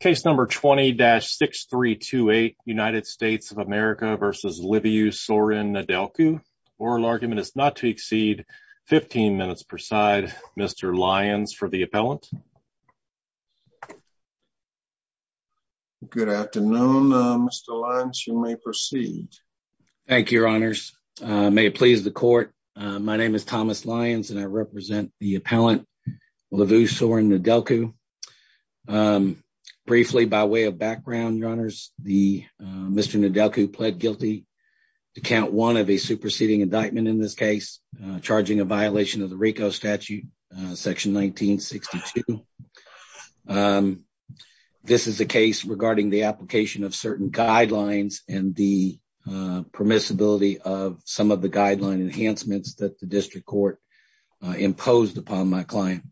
Case number 20-6328 United States of America versus LiviuSorin Nedelcu. Oral argument is not to exceed 15 minutes per side. Mr. Lyons for the appellant. Good afternoon Mr. Lyons. You may proceed. Thank you your honors. May it please the court. My name is Thomas Lyons and I represent the appellant LiviuSorin Nedelcu. Briefly by way of background your honors the Mr. Nedelcu pled guilty to count one of a superseding indictment in this case charging a violation of the RICO statute section 1962. This is a case regarding the application of certain guidelines and the permissibility of some of the guideline enhancements that the district court imposed upon my client.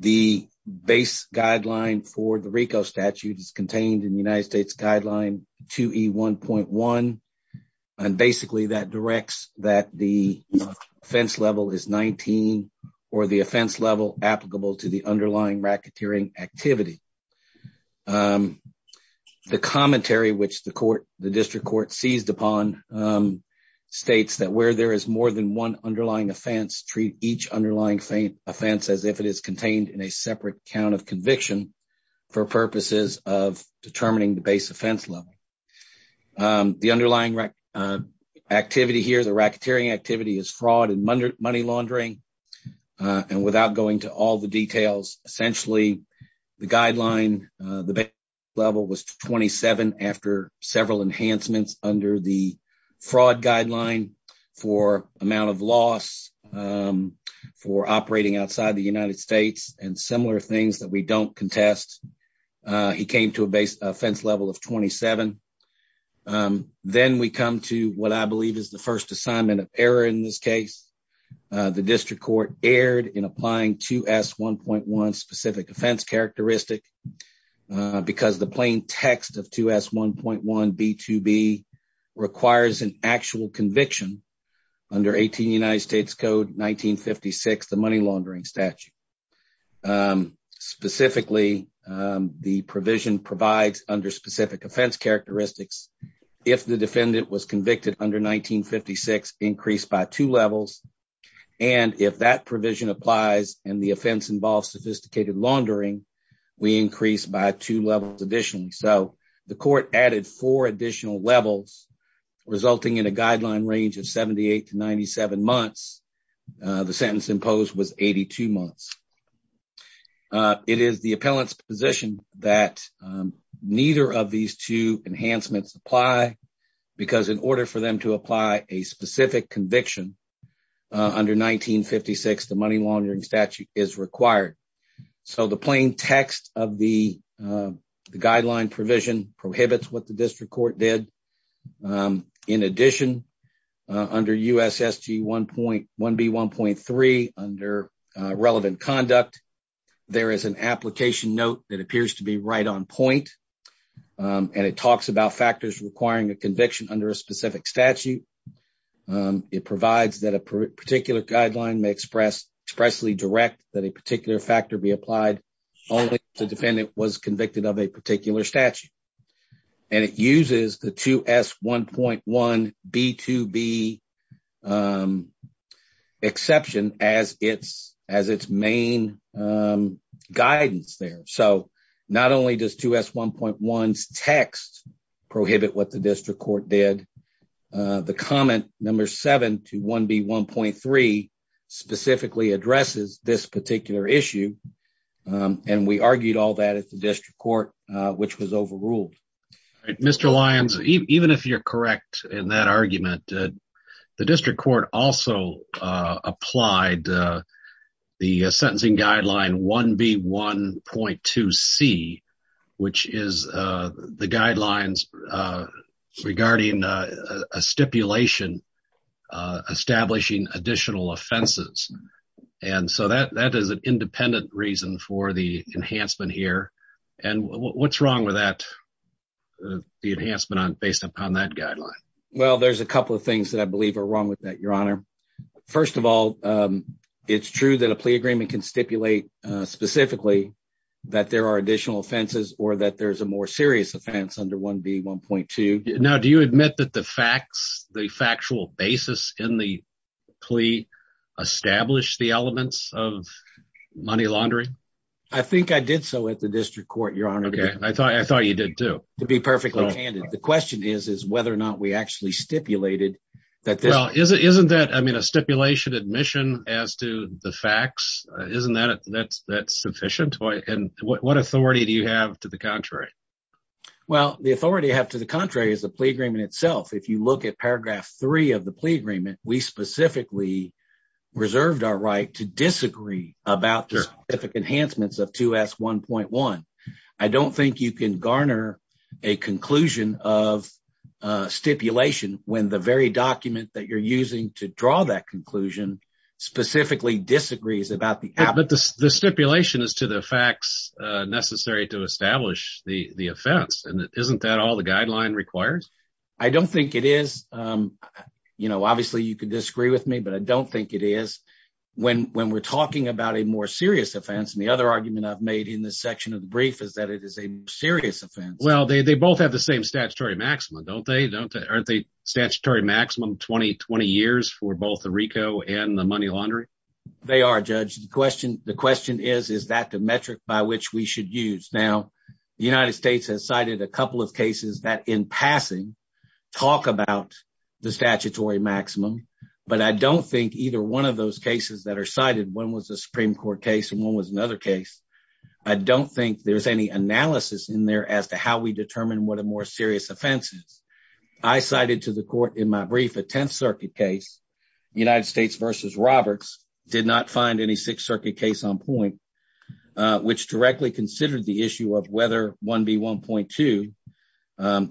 The base guideline for the RICO statute is contained in the United States guideline 2E1.1 and basically that directs that the offense level is 19 or the offense level applicable to the underlying racketeering activity. The commentary which the court the district court seized upon states that where there is more than one underlying offense treat each underlying faint offense as if it is contained in a separate count of conviction for purposes of determining the base offense level. The underlying activity here the racketeering activity is fraud and money laundering and without going to all the details essentially the guideline the level was 27 after several enhancements under the fraud guideline for amount of loss for operating outside the United States and similar things that we don't contest he came to a base offense level of 27. Then we come to what I believe is the first assignment of error in this case the district court erred in applying 2S1.1 specific offense characteristic because the plain text of 2S1.1 B2B requires an actual conviction under 18 United States code 1956 the money laundering statute. Specifically the provision provides under specific offense characteristics if the defendant was convicted under 1956 increased by two levels and if that provision applies and the offense involves sophisticated laundering we increase by two levels additionally so the court added four additional levels resulting in a guideline range of 78 to 97 months the sentence imposed was 82 months. It is the appellant's position that neither of these two enhancements apply because in order for them to apply a specific conviction under 1956 the money laundering statute is required. So the plain text of the guideline provision prohibits what the district court did in addition under USSG 1.1 B1.3 under relevant conduct there is an application note that appears to be right on point and it talks about factors requiring a conviction under a specific statute it provides that a particular guideline may express expressly direct that a particular factor be applied only if the defendant was convicted of a particular statute and it uses the 2S1.1 B2B exception as its as its main guidance there so not only does 2S1.1's text prohibit what the district court did the comment number 7 to 1B1.3 specifically addresses this particular issue and we argued all that at the district court which was overruled. Mr. Lyons even if you're correct in that argument the district court also applied the sentencing guideline 1B1.2C which is the guidelines regarding a stipulation establishing additional offenses and so that that is an independent reason for the enhancement here and what's wrong with that the enhancement on based upon that guideline? Well there's a couple of things that I believe are wrong with that your honor. First of all it's true that a plea agreement can stipulate specifically that there are additional offenses or that there's a more serious offense under 1B1.2. Now do you admit that the facts the factual basis in the plea established the elements of money laundering? I think I did so at the district court your honor. Okay I thought I thought you did too. To be perfectly candid the question is is whether or not we actually stipulated that this well isn't isn't that I mean a stipulation admission as to the facts isn't that that's that's sufficient and what authority do you have to the contrary? Well the authority I have to the contrary is the plea agreement itself. If you look at paragraph three of the plea agreement we specifically reserved our right to disagree about the enhancements of 2S1.1. I don't think you can garner a conclusion of stipulation when the very document that you're using to draw that conclusion specifically disagrees about the stipulation as to the facts necessary to establish the the offense and isn't that all the guideline requires? I don't think it is you know obviously you could disagree with me but I don't think it is when when we're talking about a more serious offense and the other argument I've made in this section of the brief is that it is a serious offense. Well they both have the same statutory maximum don't they don't they aren't they statutory maximum 20 years for both the question the question is is that the metric by which we should use? Now the United States has cited a couple of cases that in passing talk about the statutory maximum but I don't think either one of those cases that are cited one was a Supreme Court case and one was another case I don't think there's any analysis in there as to how we determine what a more serious offense is. I cited to the court in my brief a 10th circuit case United States versus Roberts did not find any 6th circuit case on point which directly considered the issue of whether 1B1.2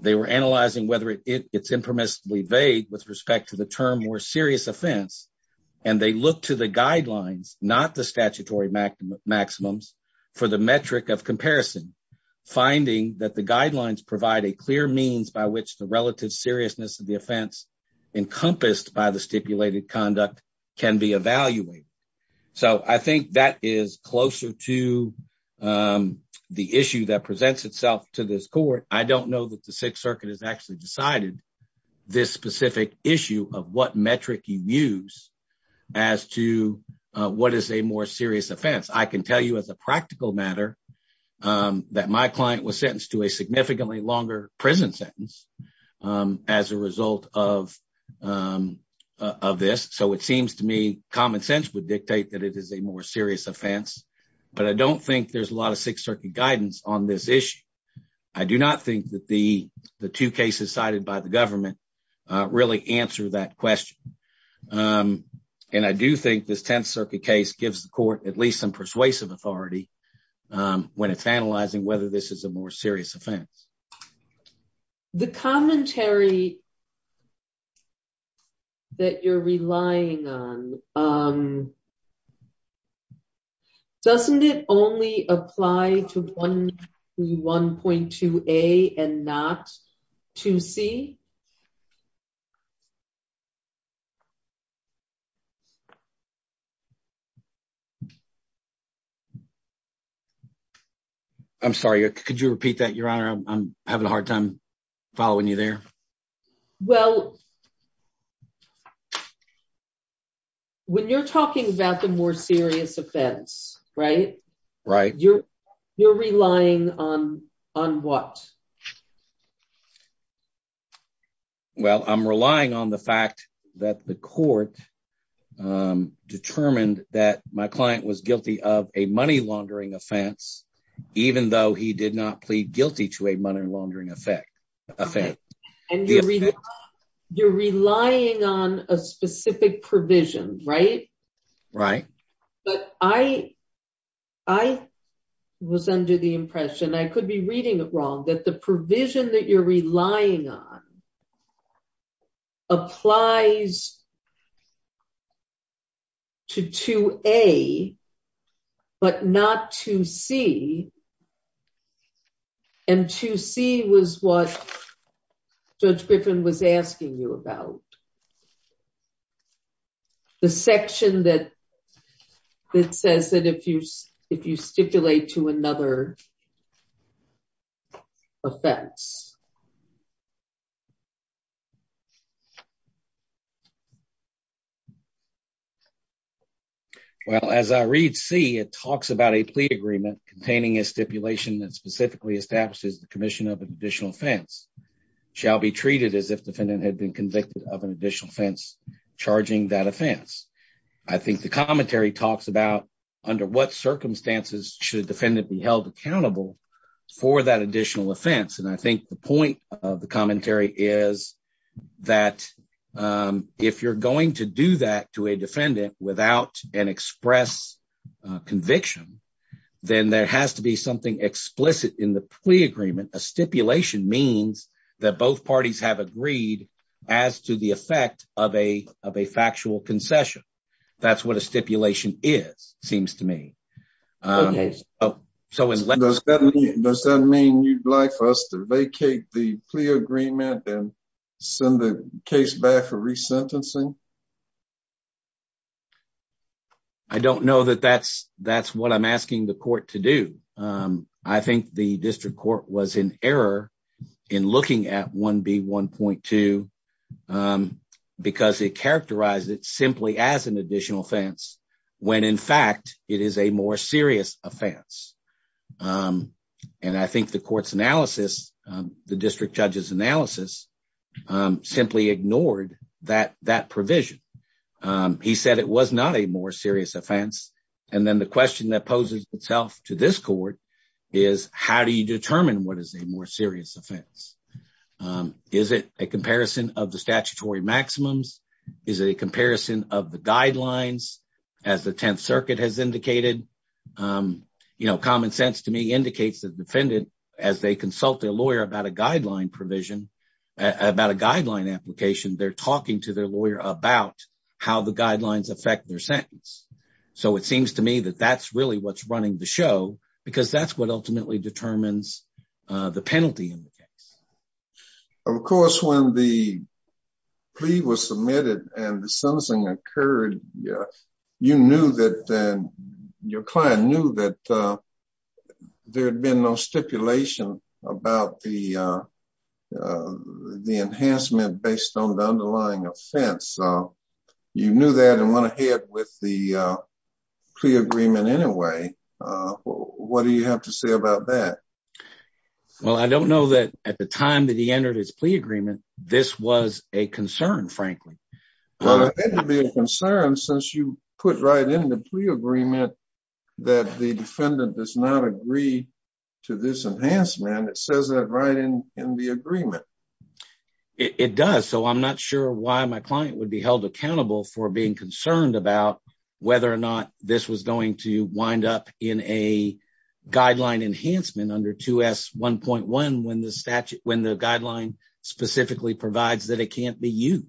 they were analyzing whether it's impermissibly vague with respect to the term more serious offense and they look to the guidelines not the statutory maximums for the metric of comparison finding that the guidelines provide a clear means by which the relative seriousness of the offense encompassed by the stipulated conduct can be evaluated so I think that is closer to the issue that presents itself to this court I don't know that the 6th circuit has actually decided this specific issue of what metric you use as to what is a more serious offense I can tell you as a practical matter that my client was sentenced to a significantly longer prison sentence as a result of this so it seems to me common sense would dictate that it is a more serious offense but I don't think there's a lot of 6th circuit guidance on this issue I do not think that the two cases cited by the government really answer that question and I do think this 10th circuit case gives the court at least some persuasive authority when it's analyzing whether this is more serious offense the commentary that you're relying on doesn't it only apply to 1.2 a and not to c I'm sorry could you repeat that your honor I'm having a hard time following you there well when you're talking about the more serious offense right right you're you're relying on on what well I'm relying on the fact that the court um determined that my client was guilty of a money laundering offense even though he did not plead guilty to a money laundering effect you're relying on a specific provision right right but I I was under the impression I could be reading it wrong that the provision that you're relying on applies to 2a but not 2c and 2c was what judge Griffin was asking you about the section that that says that if you if you stipulate to another offense well as I read c it talks about a plea agreement containing a stipulation that specifically establishes the commission of an additional offense shall be treated as if defendant had been convicted of an additional offense charging that offense I think the commentary talks about under what circumstances should defendant be held accountable for that additional offense and I think the point of the commentary is that if you're going to do that to a defendant without an express conviction then there has to be something explicit in the plea agreement a as to the effect of a of a factual concession that's what a stipulation is seems to me so does that mean you'd like for us to vacate the plea agreement and send the case back for resentencing I don't know that that's that's what I'm asking the court to do I think the um because it characterized it simply as an additional offense when in fact it is a more serious offense um and I think the court's analysis the district judge's analysis um simply ignored that that provision um he said it was not a more serious offense and then the question that poses itself to this court is how do you determine what is a more maximums is a comparison of the guidelines as the 10th circuit has indicated um you know common sense to me indicates the defendant as they consult their lawyer about a guideline provision about a guideline application they're talking to their lawyer about how the guidelines affect their sentence so it seems to me that that's really what's running the show because that's ultimately determines the penalty in the case of course when the plea was submitted and the sentencing occurred you knew that then your client knew that there had been no stipulation about the uh the enhancement based on the underlying offense so you knew that and went that well I don't know that at the time that he entered his plea agreement this was a concern frankly well it had to be a concern since you put right in the plea agreement that the defendant does not agree to this enhancement it says that right in in the agreement it does so I'm not sure why my client would be held accountable for being concerned about whether or not this was going to under 2s 1.1 when the statute when the guideline specifically provides that it can't be used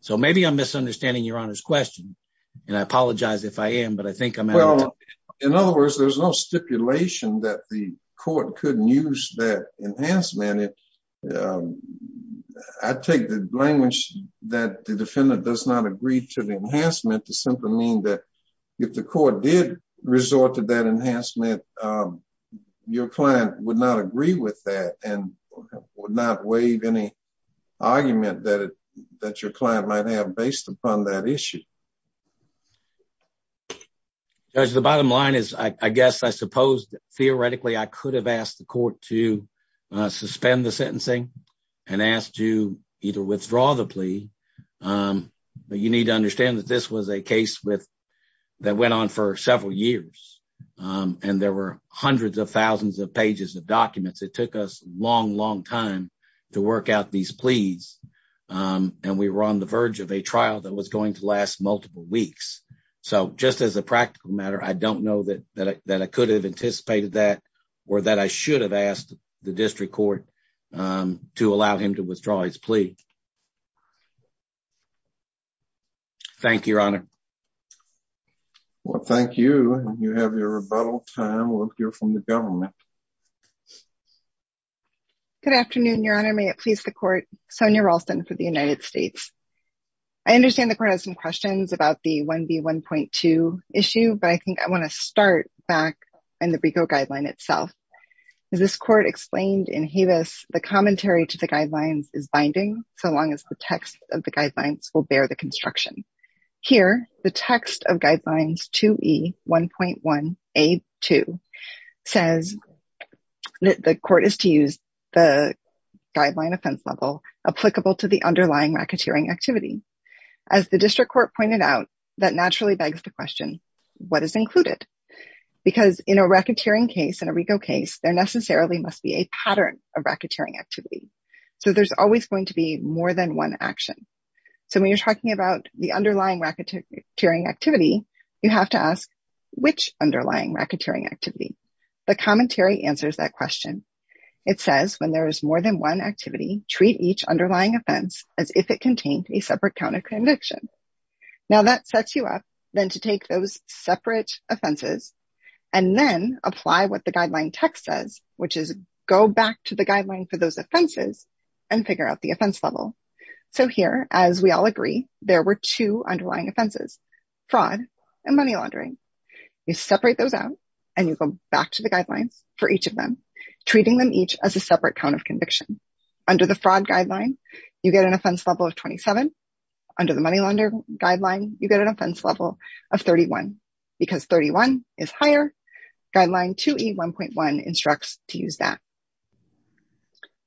so maybe I'm misunderstanding your honor's question and I apologize if I am but I think I'm well in other words there's no stipulation that the court couldn't use that enhancement I take the language that the defendant does not agree to the enhancement to simply mean that if the court did resort to that enhancement your client would not agree with that and would not waive any argument that that your client might have based upon that issue judge the bottom line is I guess I suppose theoretically I could have asked the court to suspend the sentencing and asked to either withdraw the plea but you need to understand that this was a case with that went on for several years and there were hundreds of thousands of pages of documents it took us long long time to work out these pleas and we were on the verge of a trial that was going to last multiple weeks so just as a practical matter I don't know that that I could have anticipated that or that I should have asked the district court to allow him to withdraw his plea thank you your honor well thank you you have your rebuttal time we'll hear from the government good afternoon your honor may it please the court sonia ralston for the united states I understand the court has some questions about the 1b 1.2 issue but I think I want to start back in the brico guideline itself is this court explained in havis the commentary to the guidelines is binding so long as the text of the guidelines will bear the construction here the text of guidelines 2e 1.1 a2 says that the court is to use the guideline offense level applicable to the underlying racketeering activity as the district court pointed out that naturally begs the question what is included because in a racketeering case in a rico case there necessarily must be a pattern of racketeering activity so there's always going to be more than one action so when you're talking about the underlying racketeering activity you have to ask which underlying racketeering activity the commentary answers that question it says when there is more than one activity treat each underlying offense as if it contained a separate count of conviction now that sets you up then to take those separate offenses and then apply what the guideline text says which is go back to the guideline for those offenses and figure out the offense level so here as we all agree there were two underlying offenses fraud and money laundering you separate those out and you go back to the guidelines for each of them treating them each as a separate count of conviction under the fraud guideline you get an offense level of 27 under the money launder guideline you get an offense level of 31 because 31 is higher guideline 2e 1.1 instructs to use that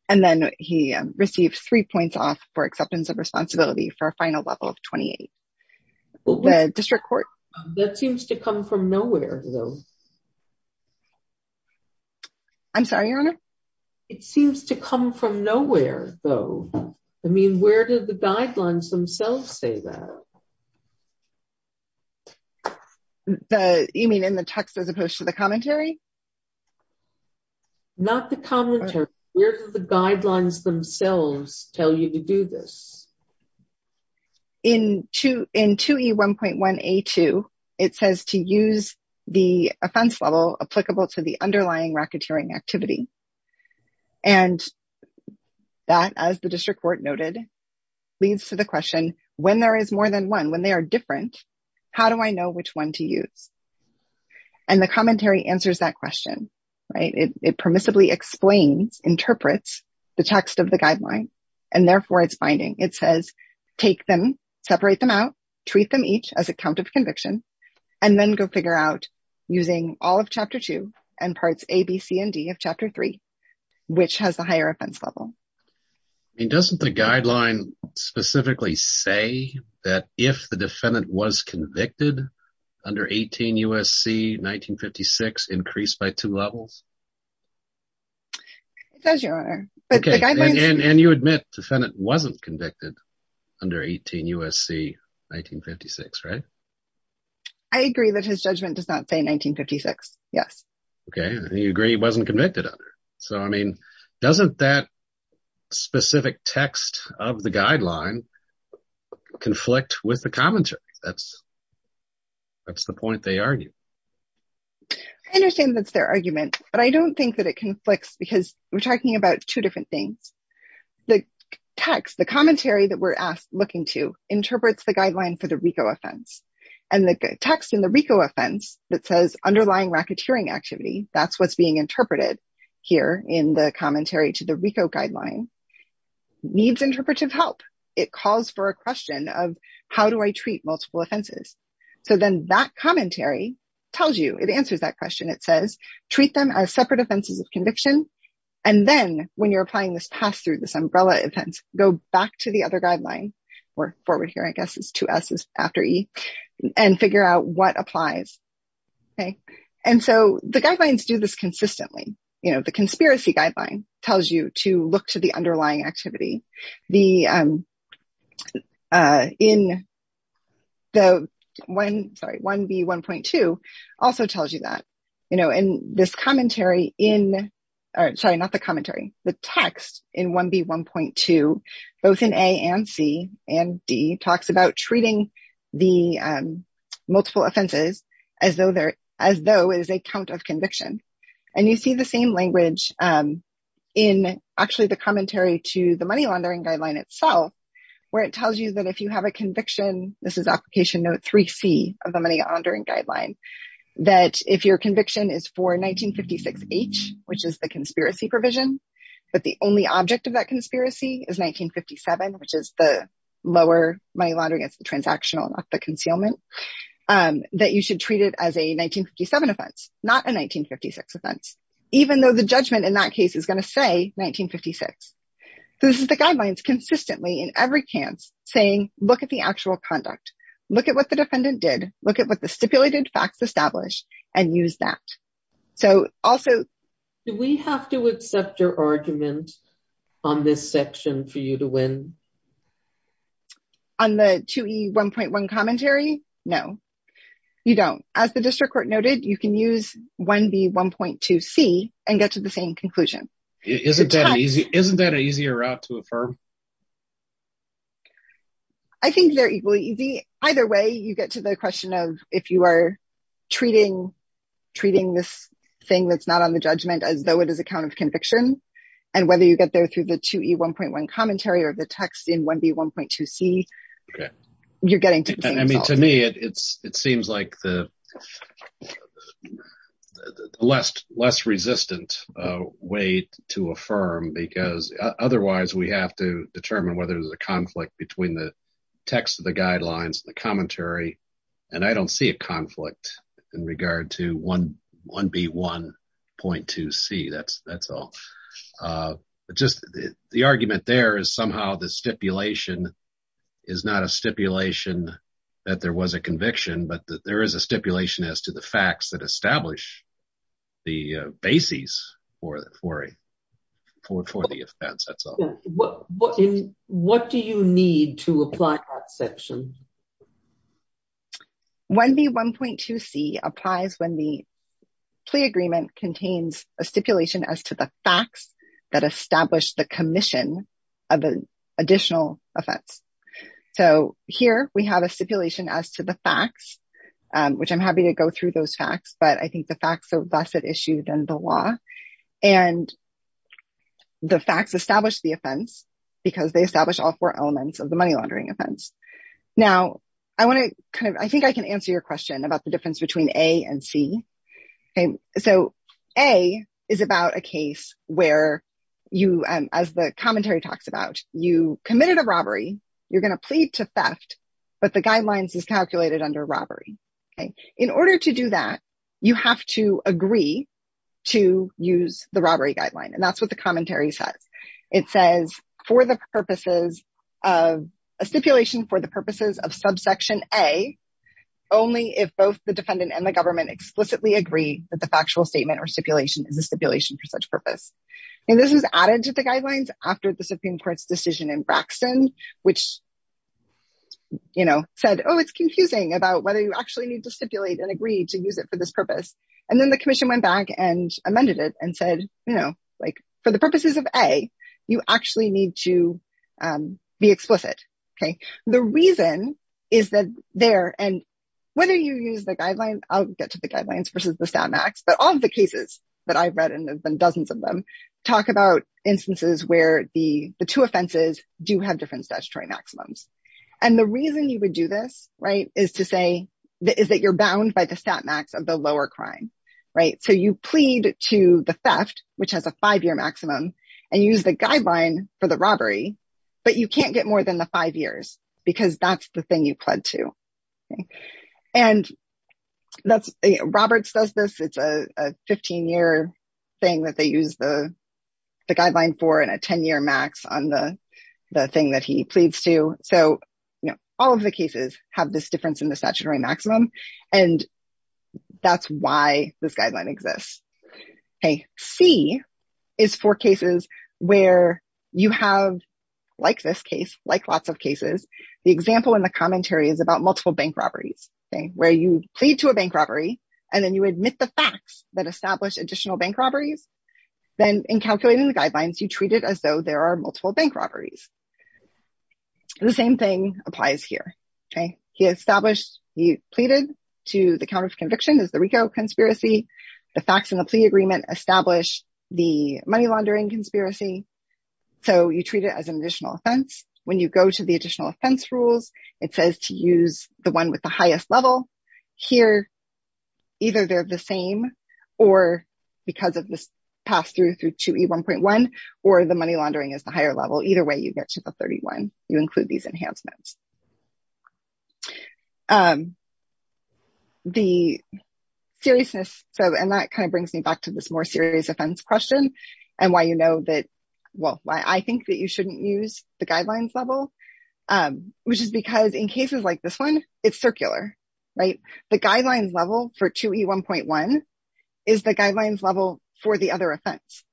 and then he received three points off for acceptance of responsibility for a final level of 28 the district court that seems to come from nowhere though i'm sorry your honor it seems to come from nowhere though i mean where do the guidelines themselves say that the you mean in the text as opposed to the commentary not the commentary where do the guidelines themselves tell you to do this in two in 2e 1.1 a2 it says to use the offense level applicable to the underlying racketeering activity and that as the district court noted leads to the question when there is more than one when they are different how do i know which one to use and the commentary answers that question right it permissibly explains interprets the text of the guideline and therefore it's binding it says take them separate them out treat them each as a count of conviction and then go figure out using all of chapter 2 and parts a b c and d of chapter 3 which has the higher offense level i mean doesn't the guideline specifically say that if the defendant was convicted under 18 usc 1956 increased by two levels it does your honor okay and you admit defendant wasn't yes okay and you agree he wasn't convicted under so i mean doesn't that specific text of the guideline conflict with the commentary that's that's the point they argue i understand that's their argument but i don't think that it conflicts because we're talking about two different things the text the commentary that we're asked looking to interprets the guideline for the rico offense and the text in the rico offense that says underlying racketeering activity that's what's being interpreted here in the commentary to the rico guideline needs interpretive help it calls for a question of how do i treat multiple offenses so then that commentary tells you it answers that question it says treat them as separate offenses of conviction and then when you're applying this pass through this umbrella offense go back to the other after e and figure out what applies okay and so the guidelines do this consistently you know the conspiracy guideline tells you to look to the underlying activity the um uh in the one sorry 1b 1.2 also tells you that you know in this commentary in or sorry not the the um multiple offenses as though they're as though it is a count of conviction and you see the same language um in actually the commentary to the money laundering guideline itself where it tells you that if you have a conviction this is application note 3c of the money laundering guideline that if your conviction is for 1956 h which is the conspiracy provision but the only object of that conspiracy is 1957 which is the lower money laundering it's the transactional not the concealment um that you should treat it as a 1957 offense not a 1956 offense even though the judgment in that case is going to say 1956 so this is the guidelines consistently in every case saying look at the actual conduct look at what the defendant did look at what the stipulated facts establish and use that so also do we have to accept your argument on this section for you to win on the 2e 1.1 commentary no you don't as the district court noted you can use 1b 1.2c and get to the same conclusion isn't that an easy isn't that an easier route to affirm i think they're equally easy either way you get to the question of if you are treating treating this thing that's not on the judgment as though it is a count of conviction and whether you get there through the 2e 1.1 commentary or the text in 1b 1.2c okay you're getting to i mean to me it it's it seems like the the the less less resistant uh way to affirm because otherwise we have to determine whether there's a conflict between the text of the guidelines the commentary and i don't see a conflict in regard to 1 1b 1.2c that's that's all uh just the argument there is somehow the that establish the basis for the for a for for the offense that's all what what what do you need to apply that section 1b 1.2c applies when the plea agreement contains a stipulation as to the facts that establish the commission of the additional offense so here we have a stipulation as to the facts which i'm happy to go through those facts but i think the facts are less at issue than the law and the facts establish the offense because they establish all four elements of the money laundering offense now i want to kind of i think i can answer your question about the difference between a and c okay so a is about a case where you as the commentary talks about you committed a robbery you're going to plead to theft but the guidelines is calculated under robbery okay in order to do that you have to agree to use the robbery guideline and that's what the commentary says it says for the purposes of a stipulation for the purposes of subsection a only if both the defendant and the government explicitly agree that the factual statement or stipulation is a stipulation for such purpose and this is added to the guidelines after the supreme court's decision in braxton which you know said oh it's confusing about whether you actually need to stipulate and agree to use it for this purpose and then the commission went back and amended it and said you know like for the purposes of a you actually need to um be explicit okay the reason is that there and whether you use the guideline i'll get to the guidelines versus the stat max but all the do have different statutory maximums and the reason you would do this right is to say that is that you're bound by the stat max of the lower crime right so you plead to the theft which has a five-year maximum and use the guideline for the robbery but you can't get more than the five years because that's the thing you pled to and that's roberts does this it's a 15-year thing that they the guideline for in a 10-year max on the the thing that he pleads to so you know all of the cases have this difference in the statutory maximum and that's why this guideline exists okay c is for cases where you have like this case like lots of cases the example in the commentary is about multiple bank robberies okay where you plead to a bank robbery and then you admit the then in calculating the guidelines you treat it as though there are multiple bank robberies the same thing applies here okay he established he pleaded to the count of conviction is the rico conspiracy the facts in the plea agreement establish the money laundering conspiracy so you treat it as an additional offense when you go to the additional offense rules it says to use the one with the highest level here either they're the same or because of this pass through through 2e 1.1 or the money laundering is the higher level either way you get to the 31 you include these enhancements um the seriousness so and that kind of brings me back to this more serious offense question and why you know that well why i think that you shouldn't use the guidelines level um which is because in cases like this one it's for the other offense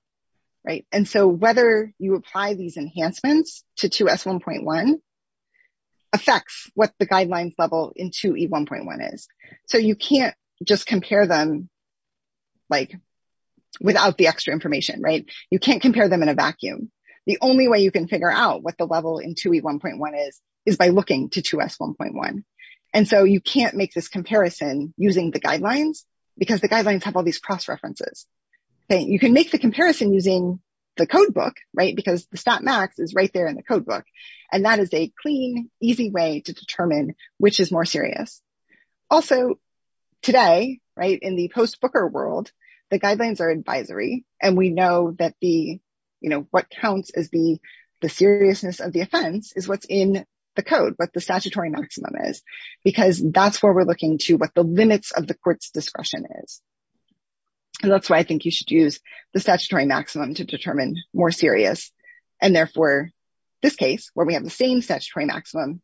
right and so whether you apply these enhancements to 2s 1.1 affects what the guidelines level in 2e 1.1 is so you can't just compare them like without the extra information right you can't compare them in a vacuum the only way you can figure out what the level in 2e 1.1 is is by looking to 2s 1.1 and so you can't make this okay you can make the comparison using the code book right because the stat max is right there in the code book and that is a clean easy way to determine which is more serious also today right in the post booker world the guidelines are advisory and we know that the you know what counts as the the seriousness of the offense is what's in the code what the statutory maximum is because that's where we're looking to what the limits of the court's discretion is and that's why i think you should use the statutory maximum to determine more serious and therefore this case where we have the same statutory maximum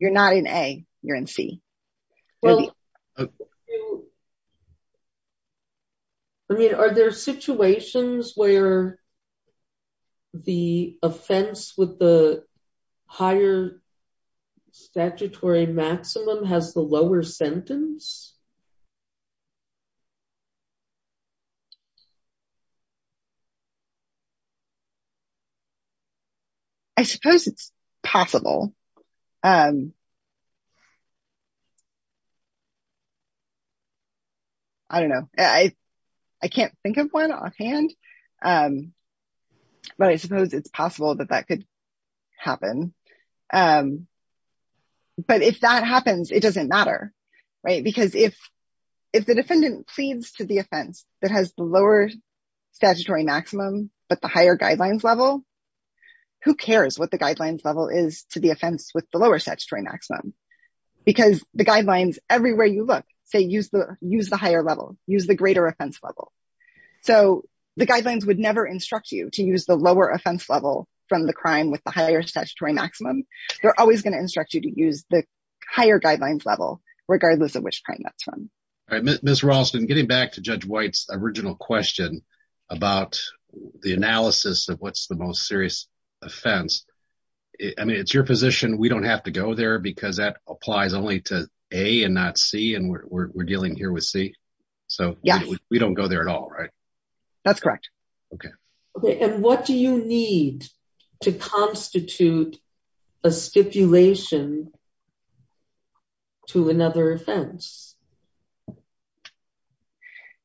you're not in a you're in c i mean are there situations where the offense with the higher statutory maximum has the lower sentence i suppose it's possible um i don't know i i can't think of one offhand um but i suppose it's possible that that could happen um but if that happens it doesn't matter right because if if the defendant pleads to the that has the lower statutory maximum but the higher guidelines level who cares what the guidelines level is to the offense with the lower statutory maximum because the guidelines everywhere you look say use the use the higher level use the greater offense level so the guidelines would never instruct you to use the lower offense level from the crime with the higher statutory maximum they're always going to instruct you to use the higher guidelines level regardless of which all right miss rawlston getting back to judge white's original question about the analysis of what's the most serious offense i mean it's your position we don't have to go there because that applies only to a and not c and we're dealing here with c so yeah we don't go there at all right that's correct okay okay and what do you need to establish that offense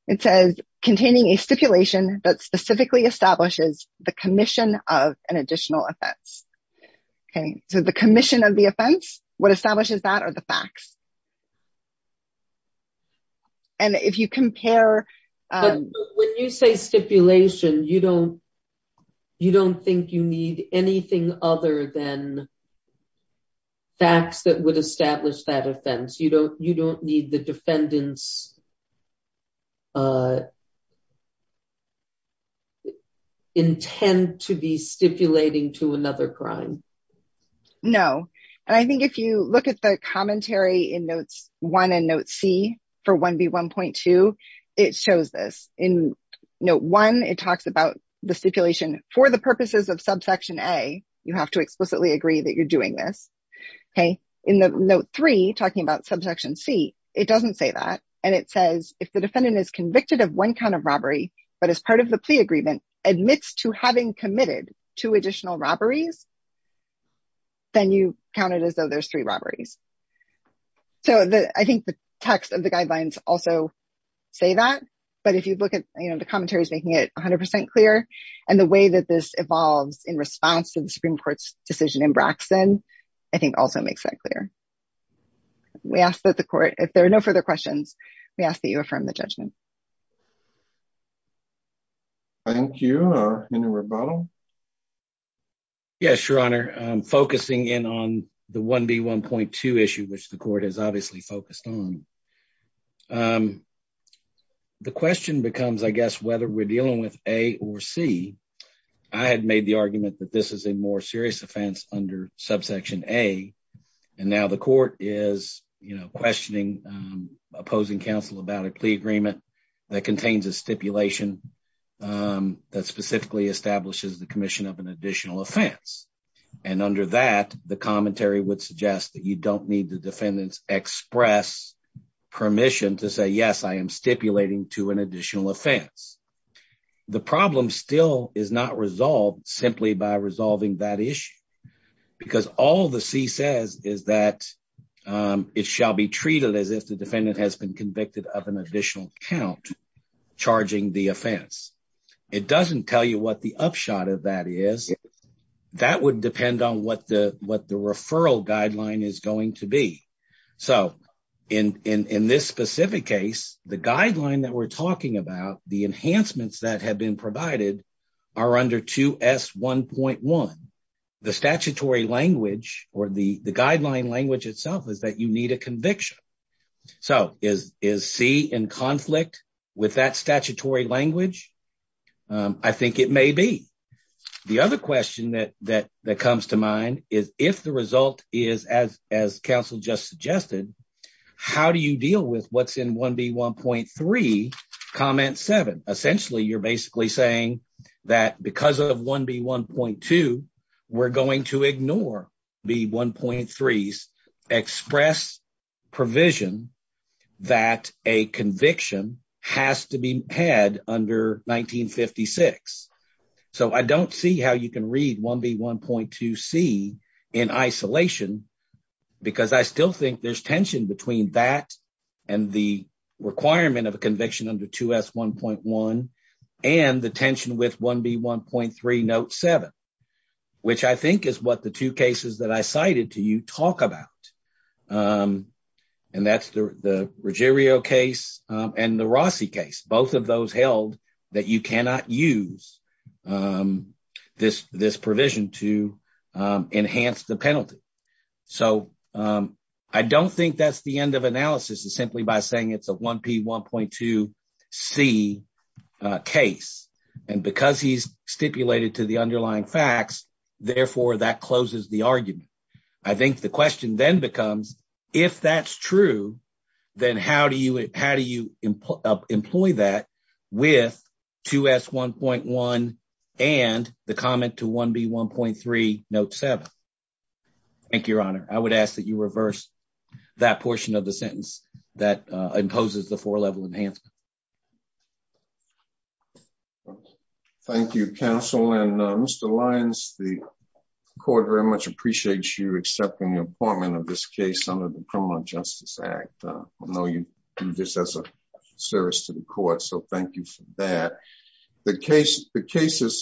it says containing a stipulation that specifically establishes the commission of an additional offense okay so the commission of the offense what establishes that are the facts and if you compare um when you say stipulation you don't you don't think you need anything other than facts that would establish that offense you don't you don't need the defendant's intend to be stipulating to another crime no and i think if you look at the commentary in notes one and note c for 1b 1.2 it shows this in note one it talks about the stipulation for the purposes of subsection a you have to explicitly agree that you're doing this okay in the note three talking about subsection c it doesn't say that and it says if the defendant is convicted of one kind of robbery but as part of the plea agreement admits to having committed two additional robberies then you count it as though there's three robberies so the i think the text of the guidelines also say that but if you look at you know the commentary is making it 100 clear and the way that this evolves in response to the supreme court's decision in braxen i think also makes that clear we ask that the court if there are no further questions we ask that you affirm the judgment thank you or any rebuttal yes your honor i'm focusing in on the 1b 1.2 issue which the court is obviously focused on um the question becomes i guess whether we're dealing with a or c i had made the argument that this is a more serious offense under subsection a and now the court is you know questioning um opposing counsel about a plea agreement that contains a stipulation um that specifically establishes the commission of an additional offense and under that the commentary would suggest that you don't need the defendants express permission to say yes i am stipulating to an additional offense the problem still is not resolved simply by resolving that issue because all the c says is that um it shall be treated as if the defendant has been convicted of an additional count charging the offense it doesn't tell you what the upshot of that is that would depend on what the what the referral guideline is going to be so in in in this specific case the guideline that we're talking about the enhancements that have been provided are under 2s 1.1 the statutory language or the the guideline language itself is that you need a conviction so is is c in conflict with that statutory language um i think it may be the other question that that that comes to mind is if the result is as as counsel just suggested how do you deal with what's in 1b 1.3 comment 7 essentially you're basically saying that because of 1b 1.2 we're going to ignore the 1.3s express provision that a conviction has to be had under 1956 so i don't see how you can read 1b 1.2 c in isolation because i still think there's tension between that and the requirement of a conviction under 2s 1.1 and the tension with 1b 1.3 note 7 which i think is what the two cases that i cited to you talk about um and that's the regerio case and the rossi case both of those held that you cannot use um this this provision to um enhance the penalty so um i don't think that's the end of analysis is simply by saying it's a 1p 1.2 c case and because he's the argument i think the question then becomes if that's true then how do you how do you employ that with 2s 1.1 and the comment to 1b 1.3 note 7 thank you your honor i would ask that you reverse that portion of the sentence that uh imposes the four level enhancement okay thank you counsel and uh mr lyons the court very much appreciates you accepting the appointment of this case under the criminal justice act i know you do this as a service to the court so thank you for that the case the case is submitted